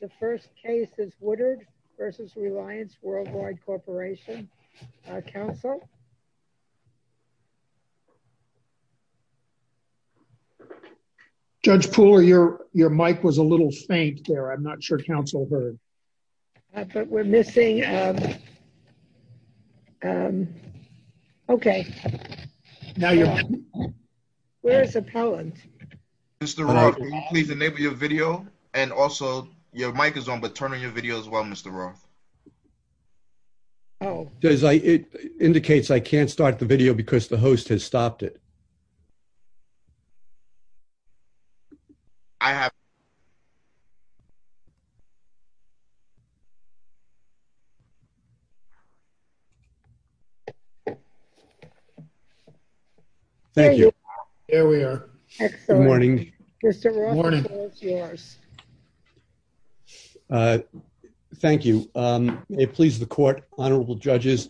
The first case is Woodard v. Reliance Worldwide Corporation. Council? Judge Poole, your your mic was a little faint there. I'm not sure council heard. But we're missing... Okay, now you're on. Where's Appellant? Mr. Wright, will you please enable your video and also your mic is on, but turn on your video as well, Mr. Roth. Oh, it indicates I can't start the video because the host has stopped it. I have... Thank you. There we are. Excellent. Good morning. Mr. Roth, the floor is yours. Thank you. It pleases the court. Honorable judges,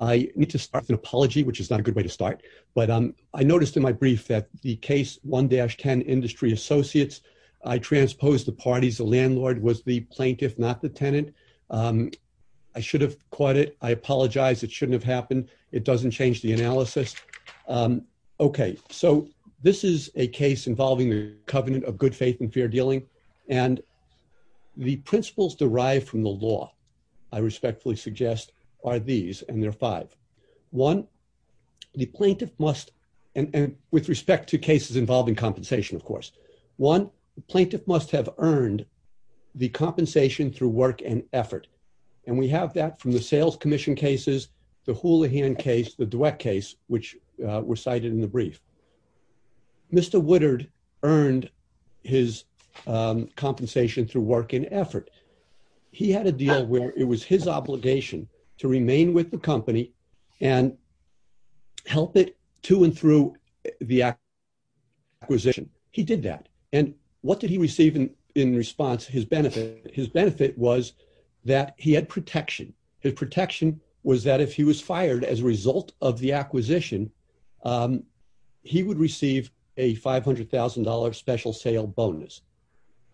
I need to start with an apology, which is not a good way to start. But I noticed in my brief that the case 1-10 Industry Associates, I transposed the parties. The landlord was the plaintiff, not the tenant. I should have caught it. I apologize. It shouldn't have happened. It doesn't change the analysis. Okay, so this is a case involving the covenant of good faith and fair dealing. And the principles derived from the law, I respectfully suggest, are these, and there are five. One, the plaintiff must... And with respect to cases involving compensation, of course. One, the plaintiff must have earned the compensation through work and effort. And we have that from the sales commission cases, the Houlihan case, the Dweck case, which were cited in the brief. Mr. Woodard earned his compensation through work and effort. He had a deal where it was his obligation to remain with the company and help it to and through the acquisition. He did that. And what did he receive in response, his benefit? His benefit was that he had protection. His protection was that if he was fired as a result of the acquisition, he would receive a $500,000 special sale bonus.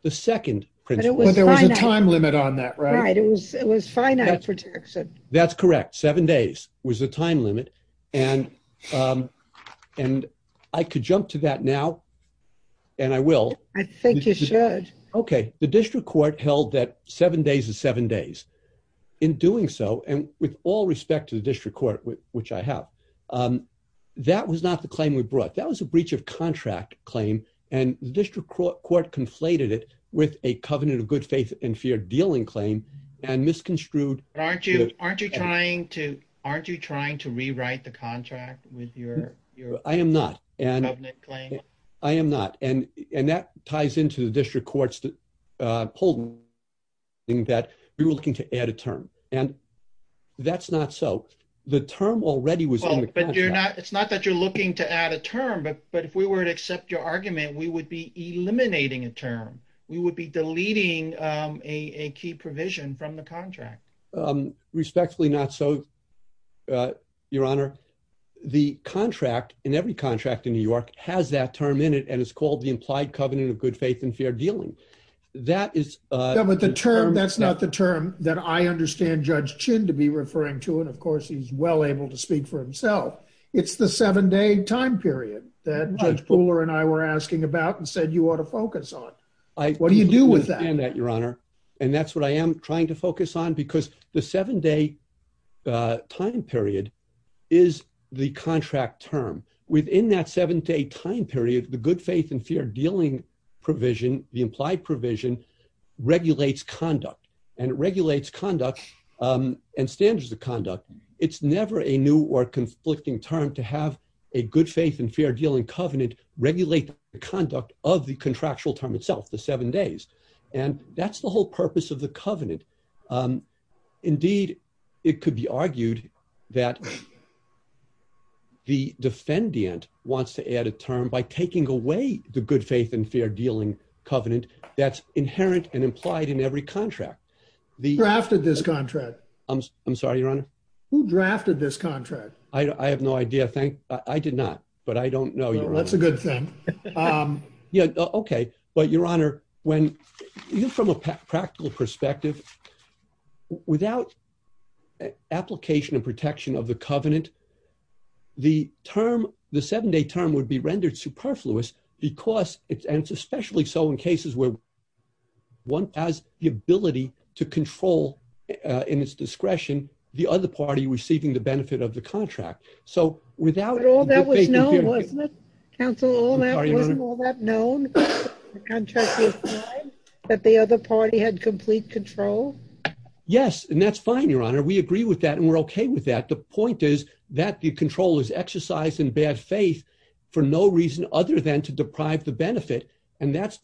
The second principle. But there was a time limit on that, right? Right. It was finite protection. That's correct. Seven days was the time limit. And I could jump to that now, and I will. I think you should. Okay. The district court held that seven days is seven days. In doing so, and with all respect to the district court, which I have, that was not the claim we brought. That was a breach of covenant of good faith and fear dealing claim and misconstrued. Aren't you trying to rewrite the contract with your covenant claim? I am not. And that ties into the district court's polling that we were looking to add a term. And that's not so. The term already was on the contract. It's not that you're looking to add a term, but if we were to accept your argument, we would be deleting a key provision from the contract. Respectfully not so, Your Honor. The contract, in every contract in New York, has that term in it, and it's called the implied covenant of good faith and fair dealing. That's not the term that I understand Judge Chin to be referring to, and of course, he's well able to speak for himself. It's the seven day time period that Judge Pooler and I were asking about and said you ought to focus on. What do you do with that? I understand that, Your Honor. And that's what I am trying to focus on, because the seven day time period is the contract term. Within that seven day time period, the good faith and fear dealing provision, the implied provision, regulates conduct. And it regulates conduct and standards of conduct. It's never a new or conflicting term to have a good faith and fair dealing covenant regulate the conduct of the contractual term itself, the seven days. And that's the whole purpose of the covenant. Indeed, it could be argued that the defendant wants to add a term by taking away the good faith and fair dealing covenant that's inherent and implied in every contract. Who drafted this contract? I'm sorry, Your Honor? Who drafted this contract? I have no idea. I did not, but I don't know. That's a good thing. Yeah. Okay. But Your Honor, even from a practical perspective, without application and protection of the covenant, the term, the seven day term would be rendered superfluous because, and it's especially so in cases where one has the ability to control in its discretion, the other party receiving the benefit of the contract. So without... But all that was known, wasn't it? Counsel, wasn't all that known? That the other party had complete control? Yes. And that's fine, Your Honor. We agree with that and we're okay with that. The point is that the control is exercised in bad faith for no reason other than to deprive the benefit. And that's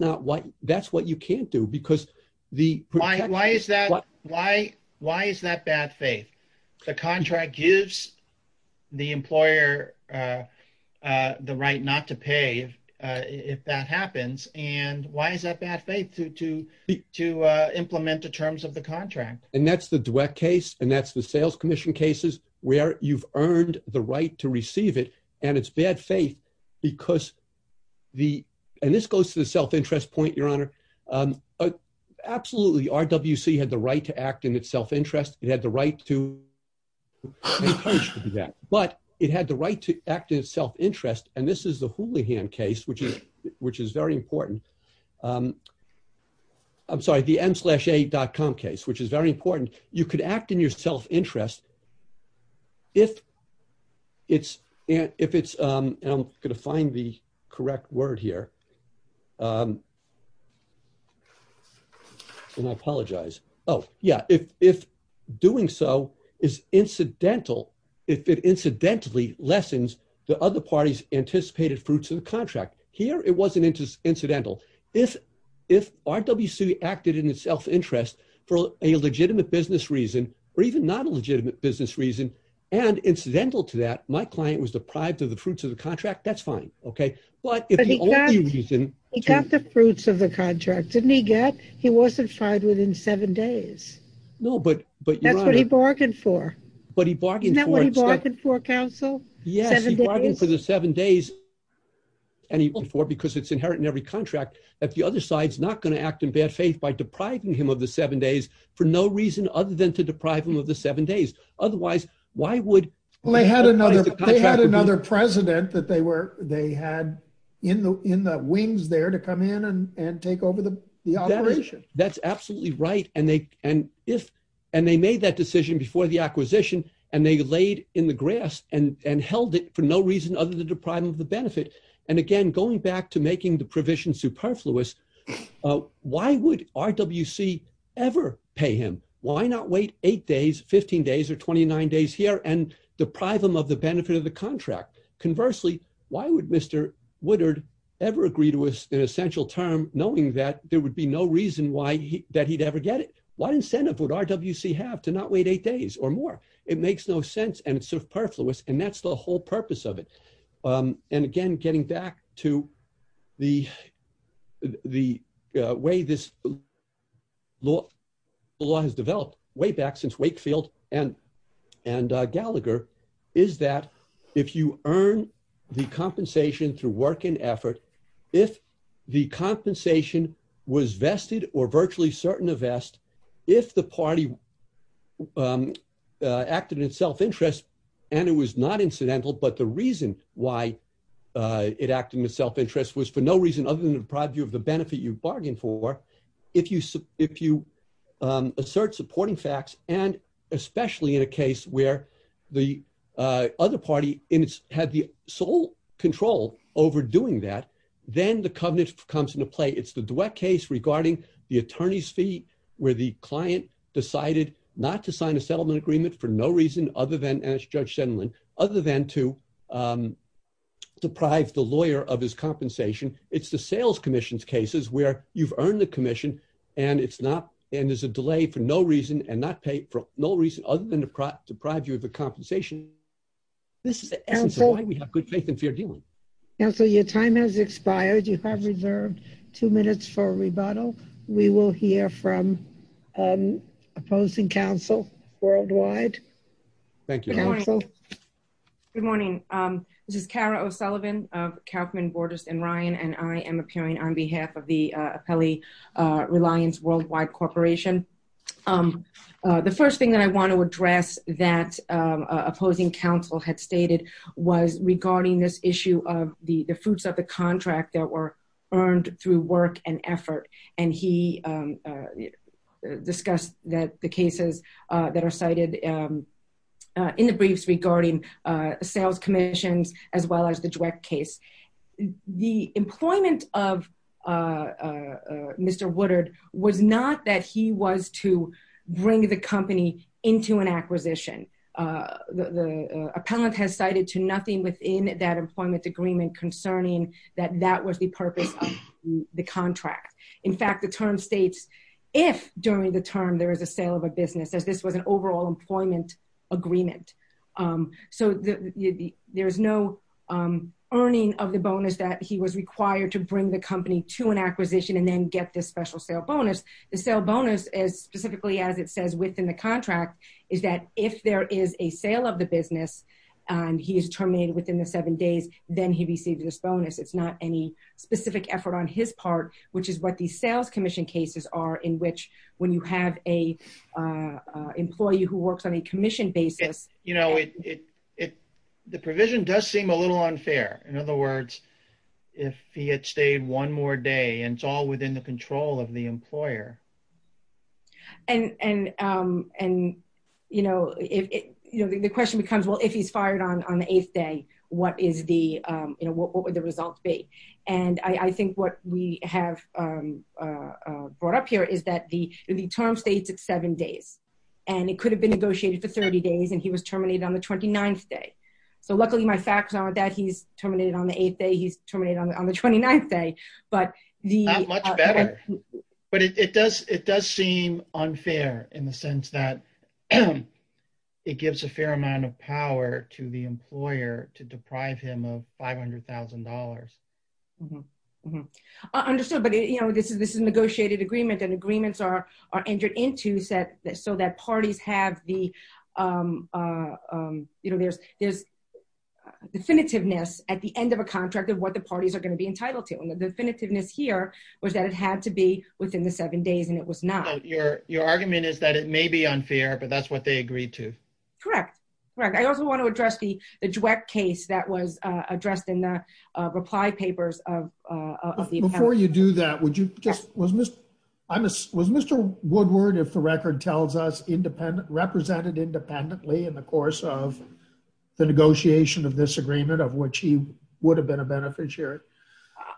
what you can't do because the... Why is that? Why is that bad faith? The contract gives the employer the right not to pay if that happens. And why is that bad faith to implement the terms of the contract? And that's the duet case and that's the sales commission cases where you've earned the right to receive it. And it's bad faith because the... And this goes to the self-interest point, Your Honor. Absolutely, RWC had the right to act in its self-interest. It had the right to... But it had the right to act in its self-interest. And this is the Houlihan case, which is very important. I'm sorry, the mslasha.com case, which is very important. You could act in your self-interest if it's... And I'm going to find the correct word here. And I apologize. Oh, yeah. If doing so is incidental, if it incidentally lessens the other parties anticipated fruits of the contract. Here, it wasn't incidental. If RWC acted in its self-interest for a legitimate business reason, or even not a legitimate business reason, and incidental to that, my client was deprived of the fruits of the contract, that's fine. He got the fruits of the contract, didn't he get? He wasn't fired within seven days. No, but Your Honor... That's what he bargained for. But he bargained for... Isn't that what he bargained for, counsel? Yes, he bargained for the seven days and he bargained for it because it's inherent in every of the seven days for no reason other than to deprive him of the seven days. Otherwise, why would... Well, they had another president that they had in the wings there to come in and take over the operation. That's absolutely right. And they made that decision before the acquisition and they laid in the grass and held it for no reason other than to deprive him of the benefit. And again, going back to making the provision superfluous, why would RWC ever pay him? Why not wait eight days, 15 days, or 29 days here and deprive him of the benefit of the contract? Conversely, why would Mr. Woodard ever agree to an essential term knowing that there would be no reason that he'd ever get it? What incentive would RWC have to not wait eight days or more? It makes no sense and it's superfluous and that's the whole purpose of it. And again, getting back to the way this law has developed way back since Wakefield and Gallagher is that if you earn the compensation through work and effort, if the compensation was vested or virtually certain to vest, if the party acted in self-interest and it was not incidental, but the reason why it acted in self-interest was for no reason other than to deprive you of the benefit you bargained for, if you assert supporting facts and especially in a case where the other party had the sole control over doing that, then the covenant comes into play. It's the duet case regarding the attorney's fee where the client decided not to sign a settlement agreement for no reason other than, as Judge Senlin, other than to deprive the lawyer of his compensation. It's the sales commission's cases where you've earned the commission and it's not, and there's a delay for no reason and not paid for no reason other than to deprive you of the compensation. This is why we have good faith and fair dealing. Counsel, your time has expired. You have reserved two minutes for rebuttal. We will hear from opposing counsel worldwide. Thank you. Good morning. This is Kara O'Sullivan of Kauffman, Bordas, and Ryan, and I am appearing on behalf of the Appellee Reliance Worldwide Corporation. The first thing that I want to address that opposing counsel had stated was regarding this contract that were earned through work and effort, and he discussed that the cases that are cited in the briefs regarding sales commissions as well as the duet case. The employment of Mr. Woodard was not that he was to bring the company into an acquisition. The appellant has cited to nothing within that employment agreement concerning that that was the purpose of the contract. In fact, the term states if during the term there is a sale of a business as this was an overall employment agreement. So there's no earning of the bonus that he was required to bring the company to an acquisition and then get this special sale bonus. The sale bonus is specifically as it says within the contract is that if there is a sale of the business, he is terminated within the seven days, then he receives this bonus. It's not any specific effort on his part, which is what these sales commission cases are in which when you have an employee who works on a commission basis. You know, the provision does seem a little unfair. In other words, if he had stayed one more day and it's all within the control of the employer. And and and, you know, if you know, the question becomes, well, if he's fired on the eighth day, what is the you know, what would the results be? And I think what we have brought up here is that the term states it's seven days and it could have been negotiated for 30 days and he was terminated on the 29th day. So luckily, my facts are that he's terminated on the eighth day. He's terminated on the 29th day. But the much better. But it does it does seem unfair in the sense that it gives a fair amount of power to the employer to deprive him of five hundred thousand dollars. Understood. But, you know, this is this is a negotiated agreement and agreements are are entered into said that so that parties have the, you know, there's there's definitiveness at the end of a contract of what the parties are going to be entitled to. And the definitiveness here was that it had to be within the seven days and it was not your your argument is that it may be unfair, but that's what they agreed to. Correct. Right. I also want to address the the case that was addressed in the reply papers of the before you do that, would you just was I was Mr. Woodward, if the record tells us independent represented independently in the of the negotiation of this agreement, of which he would have been a beneficiary?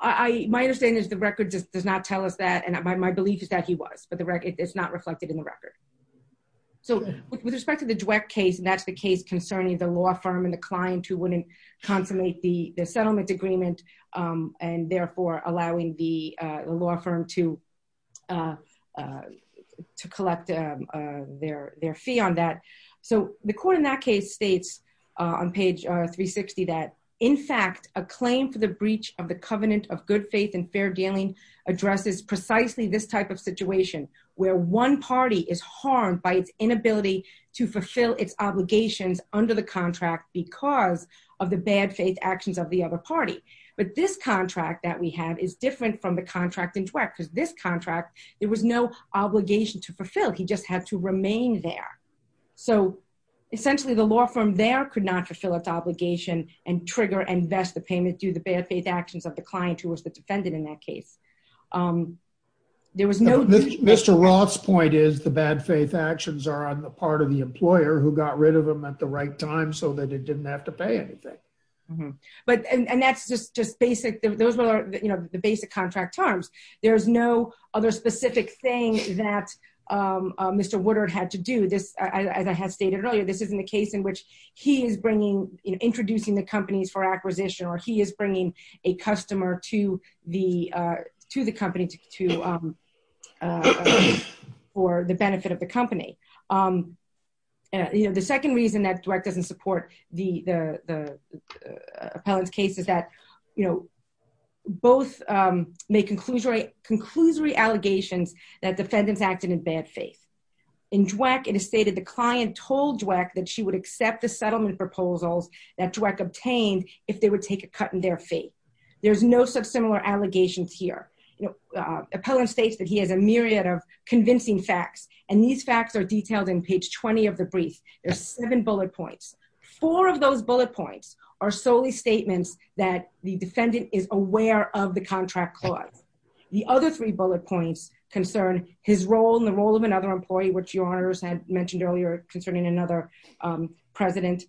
I my understanding is the record just does not tell us that. And my belief is that he was for the record. It's not reflected in the record. So with respect to the Dweck case, and that's the case concerning the law firm and the client who wouldn't consummate the settlement agreement and therefore allowing the law firm to to collect their their fee on that. So the court in that case states on page 360, that in fact, a claim for the breach of the covenant of good faith and fair dealing addresses precisely this type of situation, where one party is harmed by its inability to fulfill its obligations under the contract because of the bad faith actions of the other party. But this contract that we have is different from the contract in Dweck because this contract, there was no obligation to fulfill, he just had to remain there. So essentially, the law firm there could not fulfill its obligation and trigger and vest the payment due the bad faith actions of the client who was the defendant in that case. There was no Mr. Roth's point is the bad faith actions are on the part of the employer who got rid of them at the right time, so that it didn't have to pay anything. But and that's just just basic, those are, you know, the basic contract terms, there's no other specific thing that Mr. Woodard had to do this, as I have stated earlier, this isn't a case in which he is bringing in introducing the companies for acquisition, or he is bringing a customer to the to the company to for the benefit of the company. You know, the second reason that Dweck doesn't support the appellant's case is that, you know, both make conclusory allegations that defendants acted in bad faith. In Dweck, it is stated the client told Dweck that she would accept the settlement proposals that Dweck obtained if they would take a cut in their faith. There's no such similar allegations here. You know, appellant states that he has a myriad of convincing facts. And these facts are detailed in page 20 of the brief, there's seven bullet points, four of those bullet points are solely statements that the defendant is aware of the contract clause. The other three bullet points concern his role in the role of another employee, which your honors had mentioned earlier concerning another president.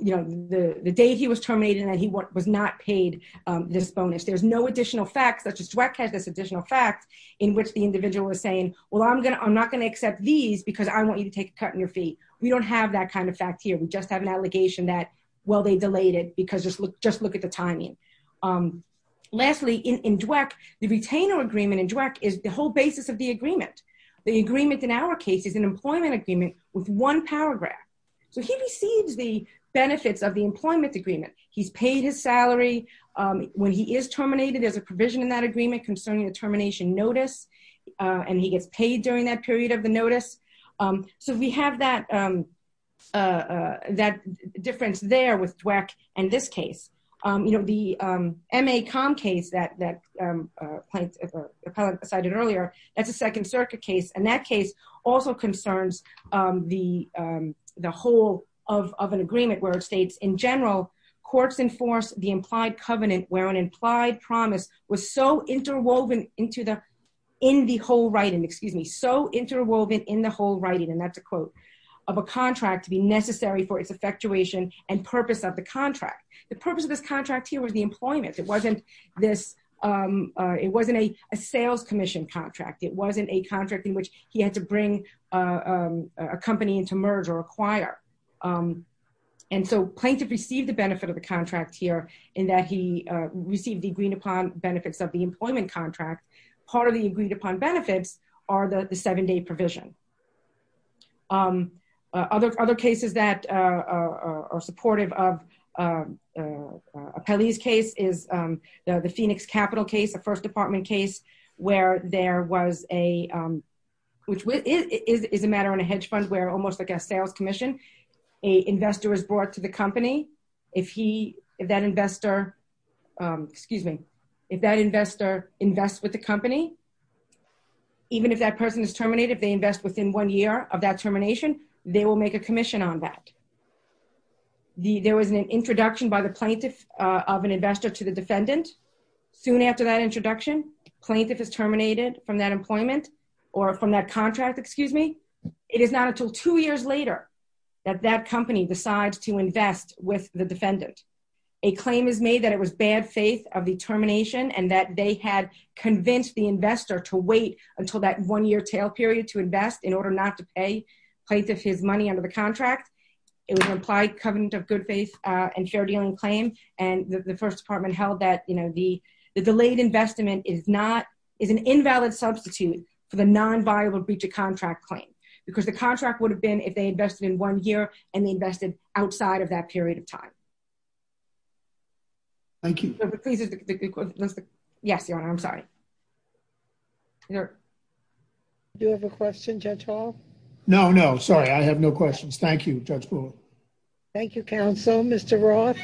You know, the day he was terminated, and he was not paid this bonus, there's no additional facts such as Dweck has additional facts in which the individual is saying, well, I'm gonna I'm not going to accept these because I want you to take a cut in your fee. We don't have that kind of fact here. We just have an allegation that, well, they delayed it because just look, just look at the timing. Lastly, in Dweck, the retainer agreement in Dweck is the whole basis of the agreement. The agreement in our case is an employment agreement with one paragraph. So he receives the benefits of the employment agreement. He's paid his salary. When he is terminated, there's a provision in that agreement concerning the termination notice. And he gets paid during that period of the notice. So we have that, that difference there with Dweck and this case, you know, the MA com case that that plaintiff appellate cited earlier, that's a Second Circuit case. And that case also concerns the, the whole of an agreement where it states in general, courts enforce the implied covenant where an implied promise was so interwoven into the, in the whole writing, excuse me, so interwoven in the whole writing, and that's a quote, of a contract to be necessary for its effectuation and purpose of the contract. The purpose of this contract here was the employment. It wasn't this, it wasn't a sales commission contract. It wasn't a contract in which he had to bring a company into merge or acquire. And so plaintiff received the benefit of the contract here in that he received the agreed upon benefits of the employment contract. Part of the agreed upon benefits are the seven day provision. Other, other cases that are supportive of Appellee's case is the Phoenix capital case, the first department case, where there was a, which is a matter on a hedge fund where almost like a sales commission, a investor is brought to the company. If he, if that investor, excuse me, if that investor invests with the company, even if that person is terminated, they invest within one year of that termination, they will make a commission on that. The, there was an introduction by the plaintiff of an investor to the defendant. Soon after that introduction, plaintiff is terminated from that employment or from that two years later that that company decides to invest with the defendant. A claim is made that it was bad faith of the termination and that they had convinced the investor to wait until that one year tail period to invest in order not to pay plaintiff his money under the contract. It was implied covenant of good faith and fair dealing claim. And the first department held that, you know, the, the delayed investment is not, is an invalid substitute for the non-viable breach of they invested in one year and they invested outside of that period of time. Thank you. Yes, your honor. I'm sorry. Do you have a question, judge hall? No, no, sorry. I have no questions. Thank you, judge. Thank you. Counsel, mr. Roth.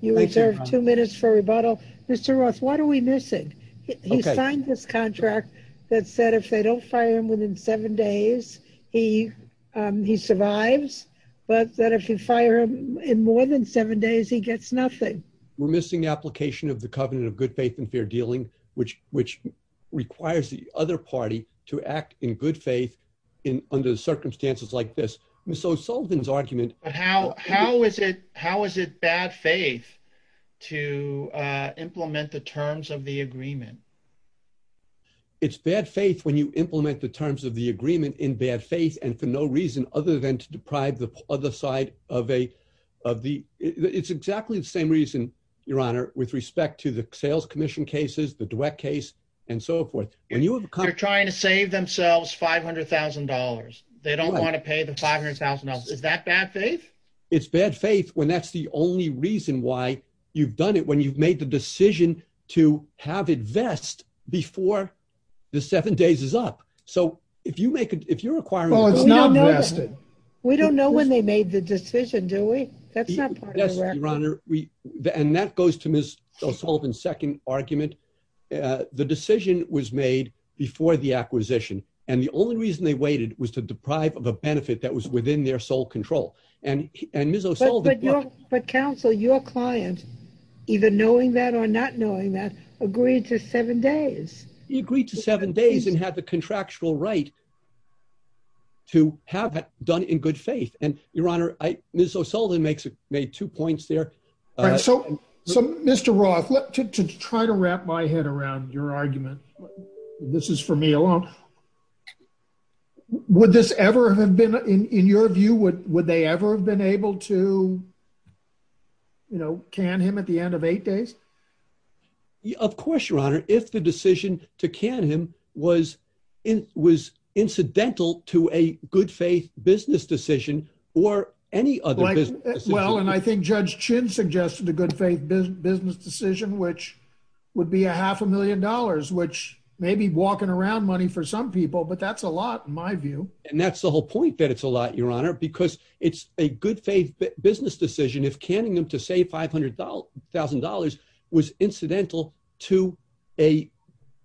You serve two minutes for rebuttal. Mr. Ross, what are we missing? He signed this contract that said if they don't fire him within seven days, he survives, but that if you fire him in more than seven days, he gets nothing. We're missing the application of the covenant of good faith and fair dealing, which requires the other party to act in good faith under circumstances like this. Ms. O'Sullivan's argument. How is it bad faith to implement the terms of the agreement? It's bad faith when you implement the terms of the agreement in bad faith and for no reason other than to deprive the other side of a, of the, it's exactly the same reason, your honor, with respect to the sales commission cases, the duet case and so forth. And you have a car trying to save themselves $500,000. They don't want to pay the $500,000. Is that bad faith? It's bad faith when that's the only reason why you've done it when you've made the decision to have it vest before the seven days is up. So if you make it, if you're requiring, we don't know when they made the decision, do we? That's not part of the record. And that goes to Ms. O'Sullivan's second argument. The decision was made before the acquisition. And the only reason they waited was to deprive of a benefit that was within their sole control. And, and Ms. O'Sullivan. But, but counsel, your client, either knowing that or not knowing that, agreed to seven days. He agreed to seven days and had the contractual right to have it done in good faith. And your honor, Ms. O'Sullivan makes, made two points there. So, so Mr. Roth, to try to wrap my head around your argument, this is for me alone. Would this ever have been in your view, would, would they ever have been able to, you know, can him at the end of eight days? Of course, your honor, if the decision to can him was, it was incidental to a good faith business decision or any other business. Well, and I think Judge Chin suggested a good faith business decision, which would be a half a million dollars, which maybe walking around money for some people, but that's a lot in my view. And that's the whole point that it's a lot, your honor, because it's a good faith business decision. If canning them to say $500,000 was incidental to a,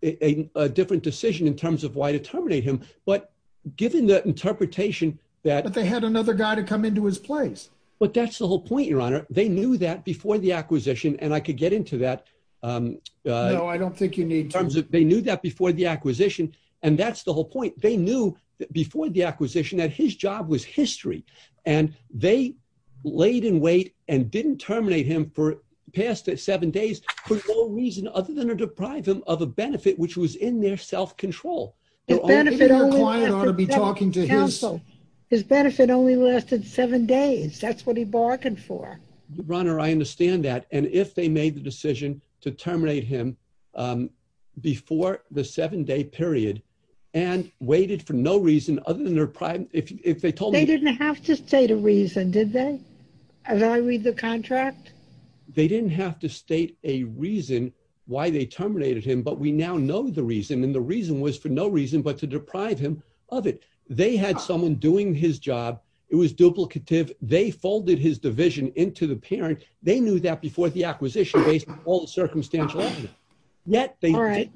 a different decision in terms of why to terminate him. But given the interpretation that. But they had another guy to come into his place. But that's the whole point, your honor. They knew that before the acquisition, and I could get into that. No, I don't think you need to. They knew that before the acquisition and that's the whole point. They knew that before the acquisition that his job was history and they laid in wait and didn't terminate him for past seven days for no reason other than to deprive him of a benefit, which was in their self-control. His benefit only lasted seven days. That's what he bargained for. Your honor, I understand that. And if they made the decision to terminate him before the seven day period and waited for no reason other than their prime, if they told me. They didn't have to state a reason, did they? As I read the contract. They didn't have to state a reason why they terminated him, but we now know the reason. And the reason was for no reason, but to deprive him of it. They had someone doing his job. It was duplicative. They folded his division into the parent. They knew that before the acquisition based on all the circumstantial evidence. All right.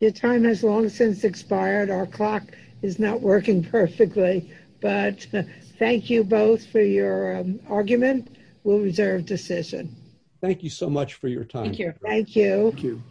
Your time has long since expired. Our clock is not working perfectly, but thank you both for your argument. We'll reserve decision. Thank you so much for your time. Thank you.